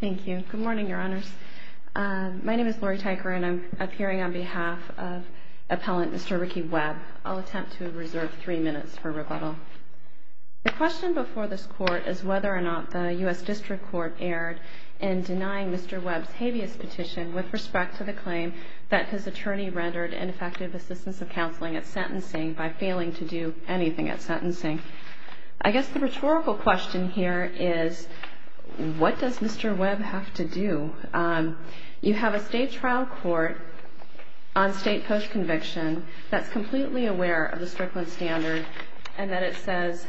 Good morning Your Honors. My name is Lori Tyker and I'm appearing on behalf of Appellant Mr. Ricky Webb. I'll attempt to reserve three minutes for rebuttal. The question before this Court is whether or not the U.S. District Court erred in denying Mr. Webb's habeas petition with respect to the claim that his attorney rendered ineffective assistance of counseling at sentencing by failing to do anything at sentencing. I guess the rhetorical question here is what does Mr. Webb have to do? You have a state trial court on state post-conviction that's completely aware of the Strickland standard and that it says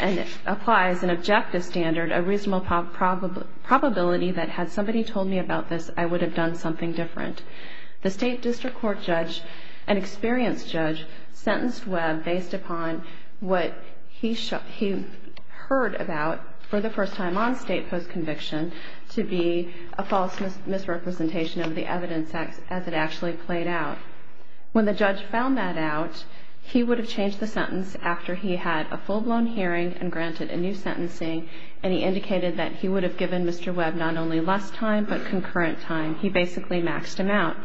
and applies an objective standard, a reasonable probability that had somebody told me about this I would have done something different. The state district court judge, an experienced judge, sentenced Webb based upon what he heard about for the first time on state post-conviction to be a false misrepresentation of the evidence as it actually played out. When the judge found that out, he would have changed the sentence after he had a full-blown hearing and granted a new sentencing and he indicated that he would have given Mr. Webb not only less time but more concurrent time. He basically maxed him out.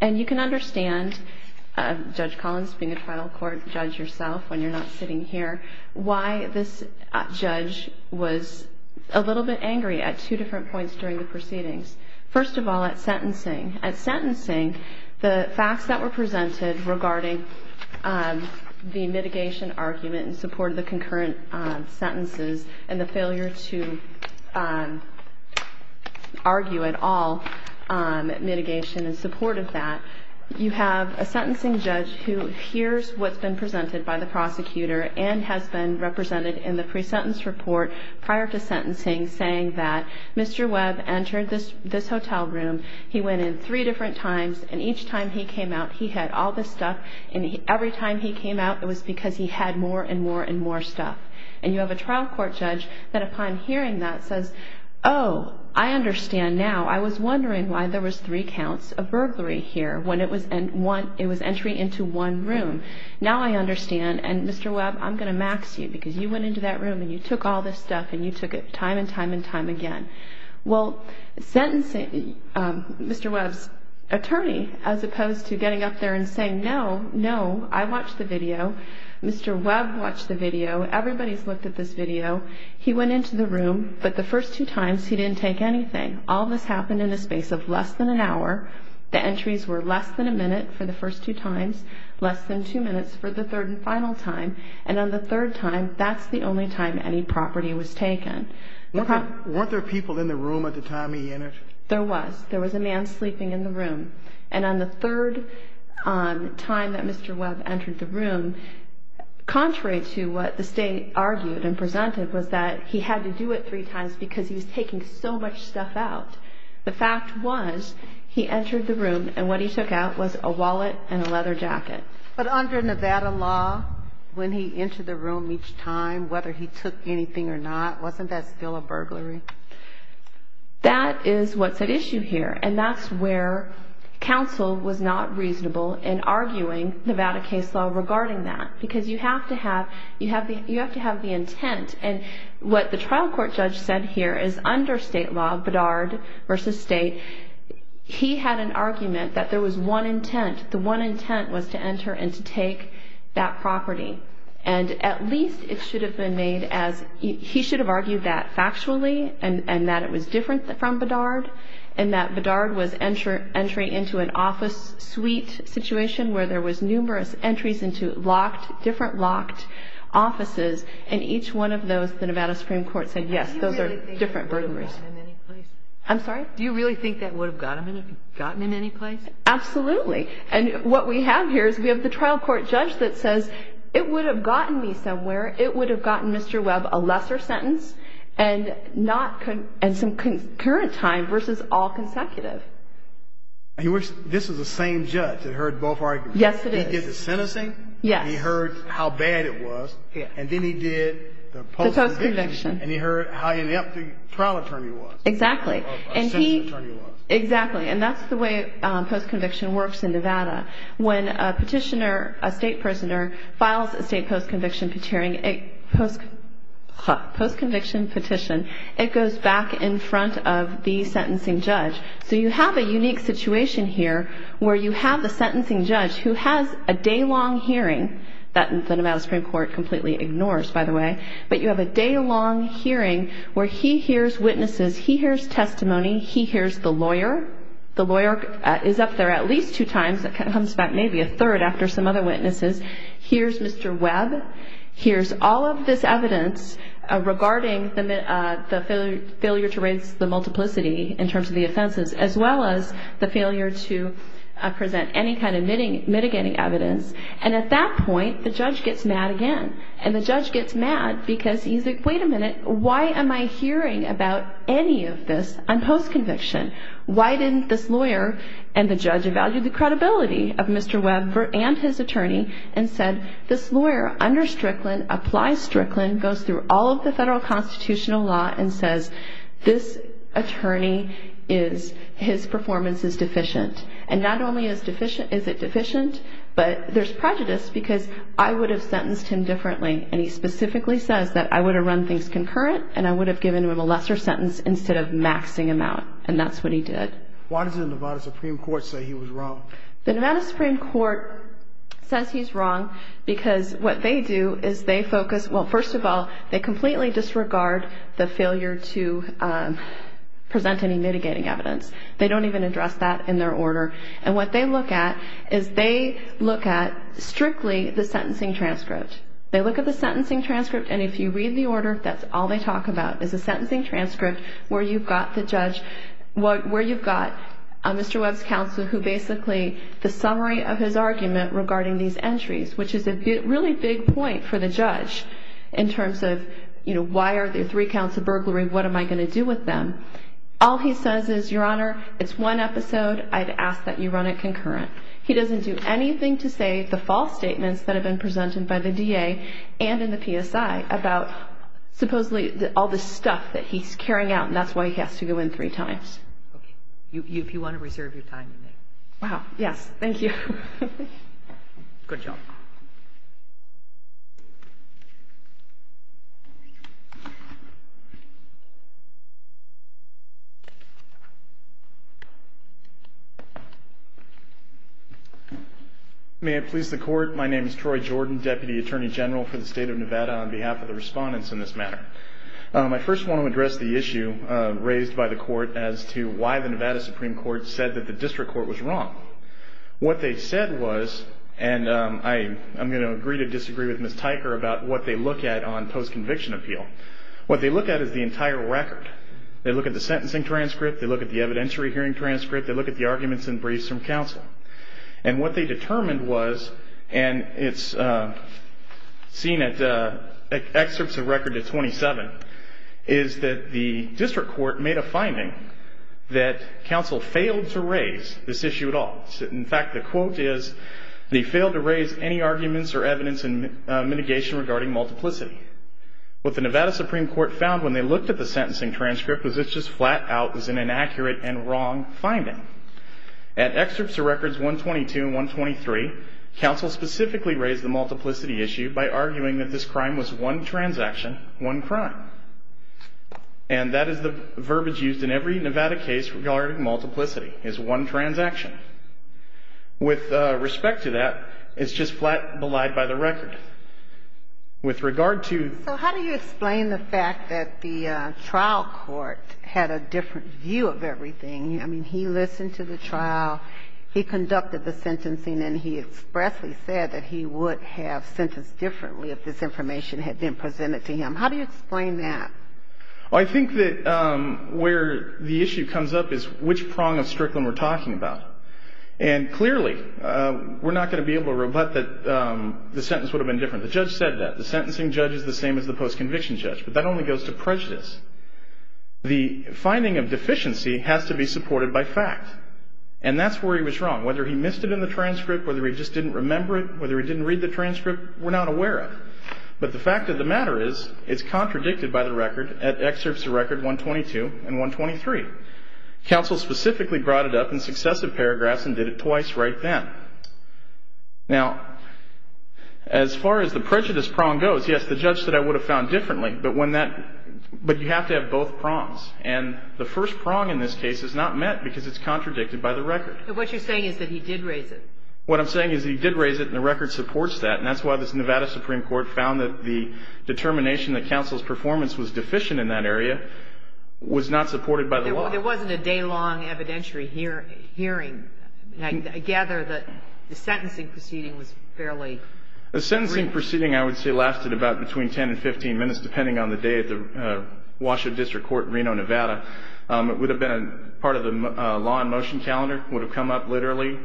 And you can understand, Judge Collins being a trial court judge yourself when you're not sitting here, why this judge was a little bit angry at two different points during the proceedings. First of all, at sentencing. At sentencing, the facts that were mitigated and supported that. You have a sentencing judge who hears what's been presented by the prosecutor and has been represented in the pre-sentence report prior to sentencing saying that Mr. Webb entered this hotel room, he went in three different times, and each time he came out he had all this stuff and every I was wondering why there was three counts of burglary here when it was entry into one room. Now I understand, and Mr. Webb, I'm going to max you because you went into that room and you took all this stuff and you took it time and time and time again. Well, Mr. Webb's attorney, as opposed to getting up there and saying, no, no, I watched the video. Mr. Webb watched the video. Everybody's looked at this video. He went into the room, but the first two times he didn't take anything. All this happened in a space of less than an hour. The entries were less than a minute for the first two times, less than two minutes for the third and final time. And on the third time, that's the only time any property was taken. Weren't there people in the room at the time he entered? There was. There was a man sleeping in the room. And on the third time that Mr. Webb entered the room, contrary to what the state argued and presented, was that he had to do it three times because he was taking so much stuff out. The fact was he entered the room and what he took out was a wallet and a leather jacket. But under Nevada law, when he entered the room each time, whether he took anything or not, wasn't that still a burglary? That is what's at issue here. And that's where counsel was not reasonable in arguing Nevada case law regarding that because you have to have the intent. And what the trial court judge said here is under state law, Bedard versus state, he had an argument that there was one intent. The one intent was to enter and to take that property. And at least it should have been made as, he should have argued that factually and that it was different from Bedard and that Bedard was entry into an office suite situation where there was numerous entries into locked, different locked offices. And each one of those, the Nevada Supreme Court said, yes, those are different burglaries. I'm sorry? Do you really think that would have gotten him any place? Absolutely. And what we have here is we have the trial court judge that says, it would have gotten me somewhere. It would have gotten Mr. Webb a lesser sentence and some concurrent time versus all consecutive. This is the same judge that heard both arguments. Yes, it is. He did the sentencing. Yes. He heard how bad it was. And then he did the post-conviction. The post-conviction. And he heard how inept the trial attorney was. Exactly. Exactly. And that's the way post-conviction works in Nevada. When a petitioner, a state prisoner, files a state post-conviction petition, it goes back in front of the sentencing judge. So you have a unique situation here where you have the sentencing judge who has a day-long hearing that the Nevada Supreme Court completely ignores, by the way. But you have a day-long hearing where he hears witnesses. He hears testimony. He hears the lawyer. The lawyer is up there at least two times. It comes back maybe a third after some other witnesses. Hears Mr. Webb. Hears all of this evidence regarding the failure to raise the multiplicity in terms of the offenses, as well as the judge gets mad again. And the judge gets mad because he's like, wait a minute. Why am I hearing about any of this on post-conviction? Why didn't this lawyer and the judge evaluate the credibility of Mr. Webb and his attorney and said, this lawyer under Strickland, applies Strickland, goes through all of the things concurrent, and I would have given him a lesser sentence instead of maxing him out. And that's what he did. Why does the Nevada Supreme Court say he was wrong? The Nevada Supreme Court says he's wrong because what they do is they focus, well, first of all, they completely disregard the failure to present any mitigating evidence. They don't even address that in their order. And what they look at is they look at strictly the sentencing transparency. They look at the sentencing transcript, and if you read the order, that's all they talk about is a sentencing transcript where you've got the judge, where you've got Mr. Webb's counsel who basically, the summary of his argument regarding these entries, which is a really big point for the judge in terms of, you know, why are there three counts of burglary? What am I going to do with them? All he says is, Your Honor, it's one episode. I'd ask that you run it concurrent. He doesn't do anything to say the false statements that have been presented by the DA and in the PSI about supposedly all the stuff that he's carrying out, and that's why he has to go in three times. Okay. If you want to reserve your time, you may. Wow. Yes. Thank you. Good job. May I please the court? My name is Troy Jordan, Deputy Attorney General for the State of Nevada on behalf of the respondents in this matter. I first want to address the issue raised by the court as to why the Nevada Supreme Court said that the district court was wrong. What they said was, and I'm going to agree to disagree with Ms. Tyker about what they look at on post-conviction appeal. What they look at is the entire record. They look at the sentencing transcript. They look at the evidentiary hearing transcript. They look at the arguments and briefs from counsel, and what they determined was, and it's seen at excerpts of record at 27, is that the district court made a finding that counsel failed to raise this issue at all. In fact, the quote is, they failed to raise any arguments or evidence in mitigation regarding multiplicity. What the Nevada Supreme Court found when they looked at the sentencing transcript was it's just flat out is an inaccurate and wrong finding. At excerpts of records 122 and 123, counsel specifically raised the multiplicity issue by arguing that this crime was one transaction, one crime. And that is the verbiage used in every Nevada case regarding multiplicity, is one transaction. With respect to that, it's just flat belied by the record. With regard to... So how do you explain the fact that the trial court had a different view of everything? I mean, he listened to the trial, he conducted the sentencing, and he expressly said that he would have sentenced differently if this information had been presented to him. How do you explain that? Well, I think that where the issue comes up is which prong of strickland we're talking about. And clearly, we're not going to be able to rebut that the sentence would have been different. The judge said that. The sentencing judge is the same as the post-conviction judge. But that only goes to prejudice. The finding of deficiency has to be supported by fact. And that's where he was wrong. Whether he missed it in the transcript, whether he just didn't remember it, whether he didn't read the transcript, we're not aware of. But the fact of the matter is, it's contradicted by the record at excerpts of record 122 and 123. Counsel specifically brought it up in successive paragraphs and did it twice right then. Now, as far as the prejudice prong goes, yes, the judge said I would have found differently, but when that ñ but you have to have both prongs. And the first prong in this case is not met because it's contradicted by the record. But what you're saying is that he did raise it. What I'm saying is he did raise it, and the record supports that. And that's why this Nevada Supreme Court found that the determination that counsel's performance was deficient in that area was not supported by the record. There wasn't a day-long evidentiary hearing. I gather that the sentencing proceeding was fairly brief. The sentencing proceeding, I would say, lasted about between 10 and 15 minutes, depending on the day at the Washoe District Court in Reno, Nevada. It would have been part of the law in motion calendar. It would have come up literally,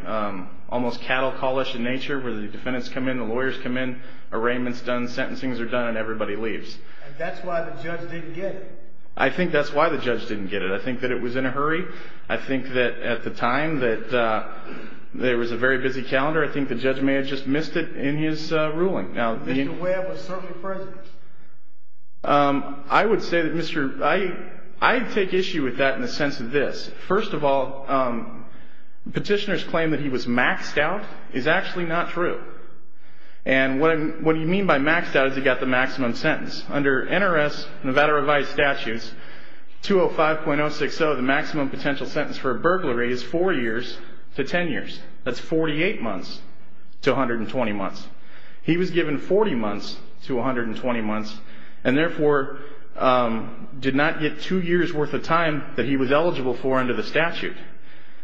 almost cattle call-ish in nature, where the defendants come in, the lawyers come in, arraignments done, sentencings are done, and everybody leaves. And that's why the judge didn't get it. I think that's why the judge didn't get it. I think that it was in a hurry. I think that at the time that there was a very busy calendar, I think the judge may have just missed it in his ruling. Mr. Ware was certainly present. I would say that Mr. – I take issue with that in the sense of this. First of all, petitioner's claim that he was maxed out is actually not true. And what you mean by maxed out is he got the maximum sentence. Under NRS Nevada revised statutes, 205.060, the maximum potential sentence for a burglary is four years to 10 years. That's 48 months to 120 months. He was given 40 months to 120 months and, therefore, did not get two years' worth of time that he was eligible for under the statute.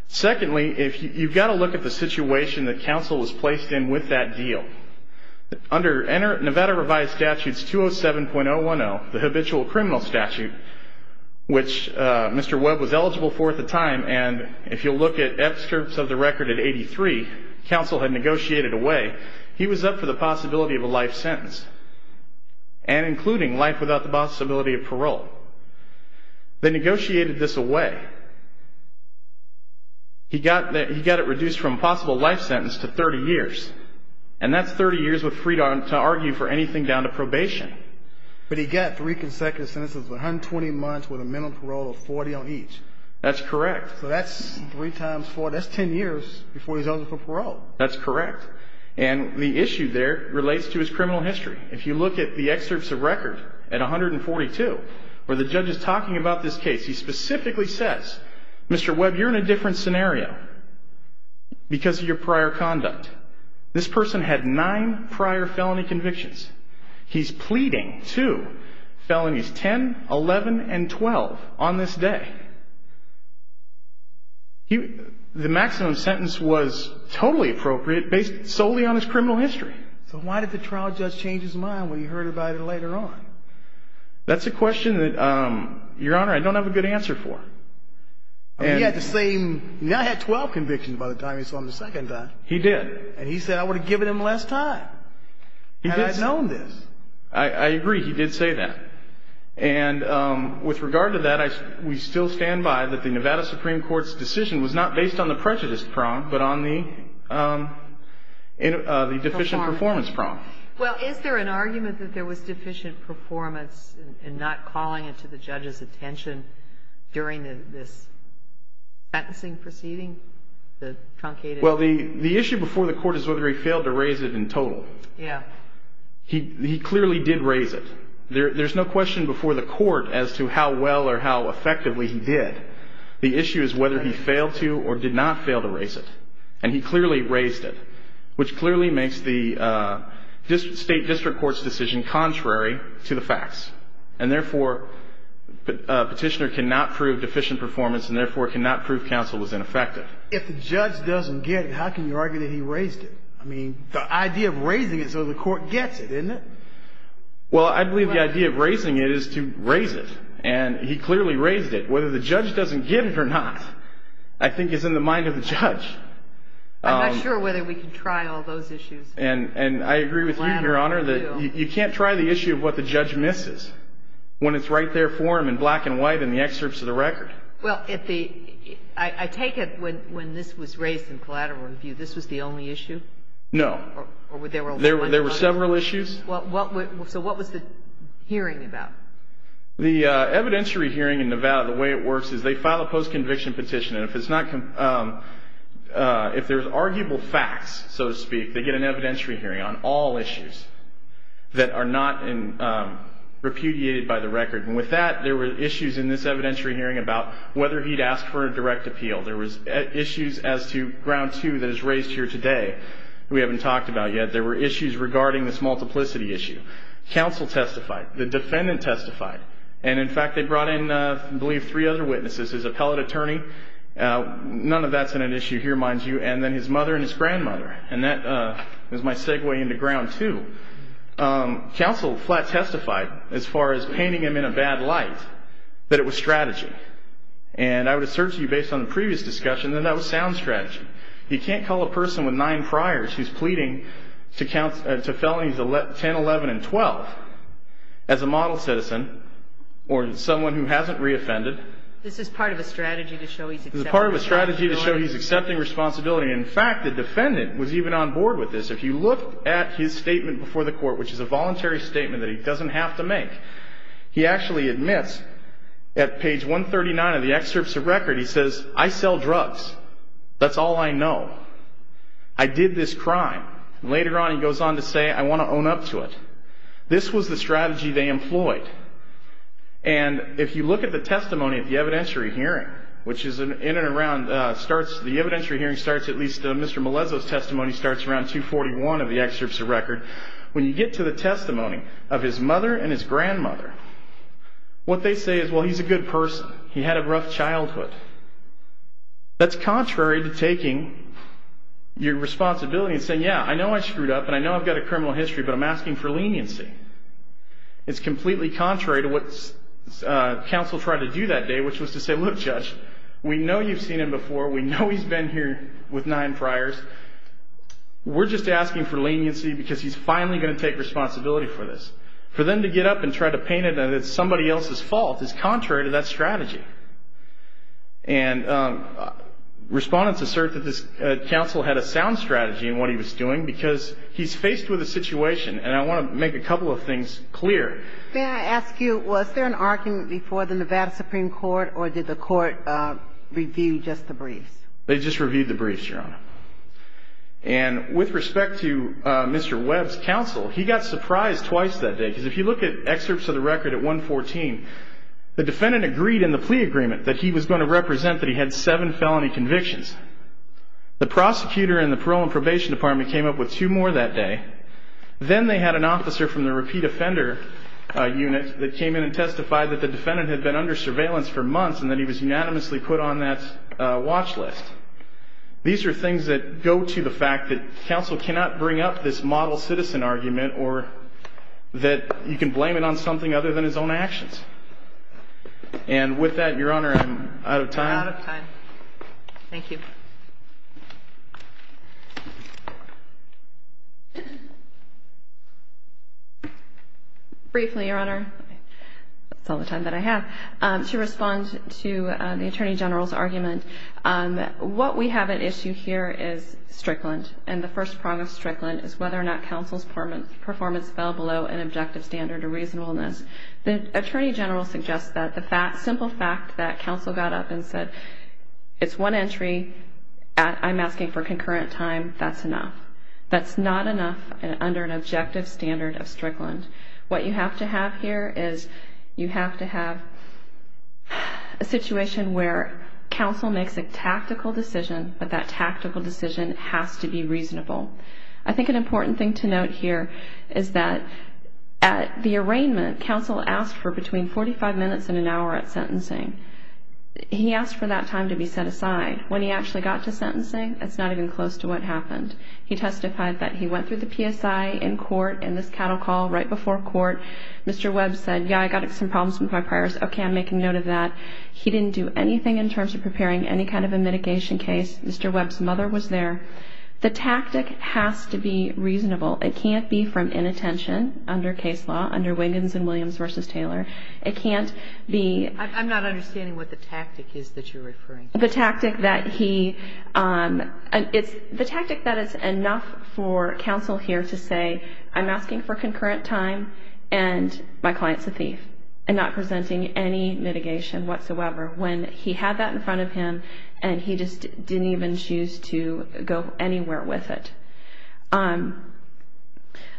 Secondly, you've got to look at the situation that counsel was placed in with that deal. Under Nevada revised statutes 207.010, the habitual criminal statute, which Mr. Webb was eligible for at the time, and if you'll look at excerpts of the record at 83, counsel had negotiated away. He was up for the possibility of a life sentence and including life without the possibility of parole. They negotiated this away. He got it reduced from a possible life sentence to 30 years, and that's 30 years to argue for anything down to probation. But he got three consecutive sentences of 120 months with a minimum parole of 40 on each. That's correct. So that's three times four. That's 10 years before he's eligible for parole. That's correct. And the issue there relates to his criminal history. If you look at the excerpts of record at 142 where the judge is talking about this case, he specifically says, Mr. Webb, you're in a different scenario because of your prior conduct. This person had nine prior felony convictions. He's pleading two felonies, 10, 11, and 12 on this day. The maximum sentence was totally appropriate based solely on his criminal history. So why did the trial judge change his mind when he heard about it later on? That's a question that, Your Honor, I don't have a good answer for. He had the same ñ he now had 12 convictions by the time he saw him the second time. He did. And he said, I would have given him less time had I known this. I agree. He did say that. And with regard to that, we still stand by that the Nevada Supreme Court's decision was not based on the prejudice prong but on the deficient performance prong. Well, is there an argument that there was deficient performance and not calling it to the judge's attention during this sentencing proceeding, the truncated? Well, the issue before the court is whether he failed to raise it in total. Yeah. He clearly did raise it. There's no question before the court as to how well or how effectively he did. The issue is whether he failed to or did not fail to raise it. And he clearly raised it, which clearly makes the State District Court's decision contrary to the facts. And therefore, a petitioner cannot prove deficient performance and therefore cannot prove counsel was ineffective. If the judge doesn't get it, how can you argue that he raised it? I mean, the idea of raising it so the court gets it, isn't it? Well, I believe the idea of raising it is to raise it. And he clearly raised it. But whether the judge doesn't get it or not, I think is in the mind of the judge. I'm not sure whether we can try all those issues. And I agree with you, Your Honor, that you can't try the issue of what the judge misses when it's right there for him in black and white in the excerpts of the record. Well, I take it when this was raised in collateral review, this was the only issue? No. There were several issues? So what was the hearing about? The evidentiary hearing in Nevada, the way it works is they file a post-conviction petition. And if there's arguable facts, so to speak, they get an evidentiary hearing on all issues that are not repudiated by the record. And with that, there were issues in this evidentiary hearing about whether he'd asked for a direct appeal. There was issues as to ground two that is raised here today that we haven't talked about yet. There were issues regarding this multiplicity issue. Counsel testified. The defendant testified. And, in fact, they brought in, I believe, three other witnesses. His appellate attorney. None of that's an issue here, mind you. And then his mother and his grandmother. And that is my segue into ground two. Counsel flat testified as far as painting him in a bad light that it was strategy. And I would assert to you, based on the previous discussion, that that was sound strategy. He can't call a person with nine priors who's pleading to felonies 10, 11, and 12 as a model citizen or someone who hasn't reoffended. This is part of a strategy to show he's accepting responsibility. This is part of a strategy to show he's accepting responsibility. In fact, the defendant was even on board with this. If you look at his statement before the court, which is a voluntary statement that he doesn't have to make, he actually admits at page 139 of the excerpts of record, he says, I sell drugs. That's all I know. I did this crime. Later on, he goes on to say, I want to own up to it. This was the strategy they employed. And if you look at the testimony at the evidentiary hearing, which is in and around, starts, the evidentiary hearing starts at least, Mr. Melezo's testimony starts around 241 of the excerpts of record. When you get to the testimony of his mother and his grandmother, what they say is, well, he's a good person. He had a rough childhood. That's contrary to taking your responsibility and saying, yeah, I know I screwed up, and I know I've got a criminal history, but I'm asking for leniency. It's completely contrary to what counsel tried to do that day, which was to say, look, Judge, we know you've seen him before. We know he's been here with nine priors. We're just asking for leniency because he's finally going to take responsibility for this. For them to get up and try to paint it as somebody else's fault is contrary to that strategy. And respondents assert that this counsel had a sound strategy in what he was doing because he's faced with a situation, and I want to make a couple of things clear. May I ask you, was there an argument before the Nevada Supreme Court, or did the court review just the briefs? They just reviewed the briefs, Your Honor. And with respect to Mr. Webb's counsel, he got surprised twice that day, because if you look at excerpts of the record at 114, the defendant agreed in the plea agreement that he was going to represent that he had seven felony convictions. The prosecutor in the parole and probation department came up with two more that day. Then they had an officer from the repeat offender unit that came in and testified that the defendant had been under surveillance for months and that he was unanimously put on that watch list. These are things that go to the fact that counsel cannot bring up this model citizen argument or that you can blame it on something other than his own actions. And with that, Your Honor, I'm out of time. You're out of time. Thank you. Briefly, Your Honor, that's all the time that I have. To respond to the Attorney General's argument, what we have at issue here is Strickland, and the first prong of Strickland is whether or not counsel's performance fell below an objective standard or reasonableness. The Attorney General suggests that the simple fact that counsel got up and said, it's one entry, I'm asking for concurrent time, that's enough. That's not enough under an objective standard of Strickland. What you have to have here is you have to have a situation where counsel makes a tactical decision, but that tactical decision has to be reasonable. I think an important thing to note here is that at the arraignment, counsel asked for between 45 minutes and an hour at sentencing. He asked for that time to be set aside. When he actually got to sentencing, it's not even close to what happened. He testified that he went through the PSI in court in this cattle call right before court. Mr. Webb said, yeah, I got some problems with my priors. Okay, I'm making note of that. He didn't do anything in terms of preparing any kind of a mitigation case. Mr. Webb's mother was there. The tactic has to be reasonable. It can't be from inattention under case law, under Wiggins and Williams v. Taylor. It can't be ---- I'm not understanding what the tactic is that you're referring to. The tactic that he ---- the tactic that it's enough for counsel here to say, I'm asking for concurrent time and my client's a thief and not presenting any mitigation. When he had that in front of him and he just didn't even choose to go anywhere with it.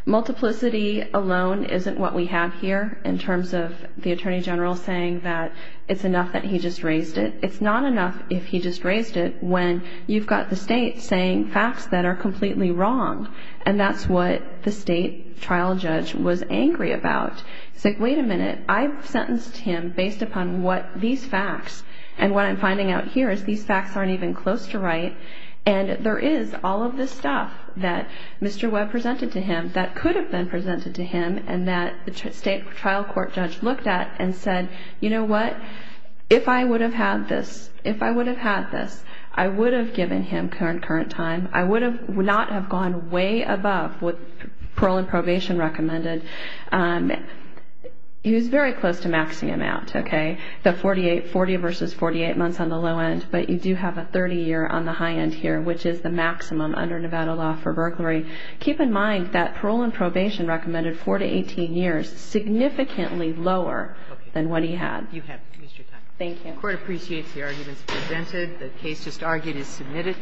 Multiplicity alone isn't what we have here in terms of the attorney general saying that it's enough that he just raised it. It's not enough if he just raised it when you've got the state saying facts that are completely wrong. And that's what the state trial judge was angry about. He said, wait a minute, I've sentenced him based upon what these facts and what I'm finding out here is these facts aren't even close to right. And there is all of this stuff that Mr. Webb presented to him that could have been presented to him and that the state trial court judge looked at and said, you know what, if I would have had this, if I would have had this, I would have given him concurrent time. I would not have gone way above what parole and probation recommended. He was very close to maxing him out, okay. The 40 versus 48 months on the low end, but you do have a 30 year on the high end here, which is the maximum under Nevada law for burglary. Keep in mind that parole and probation recommended 4 to 18 years, significantly lower than what he had. You have used your time. Thank you. The court appreciates the arguments presented. The case just argued is submitted.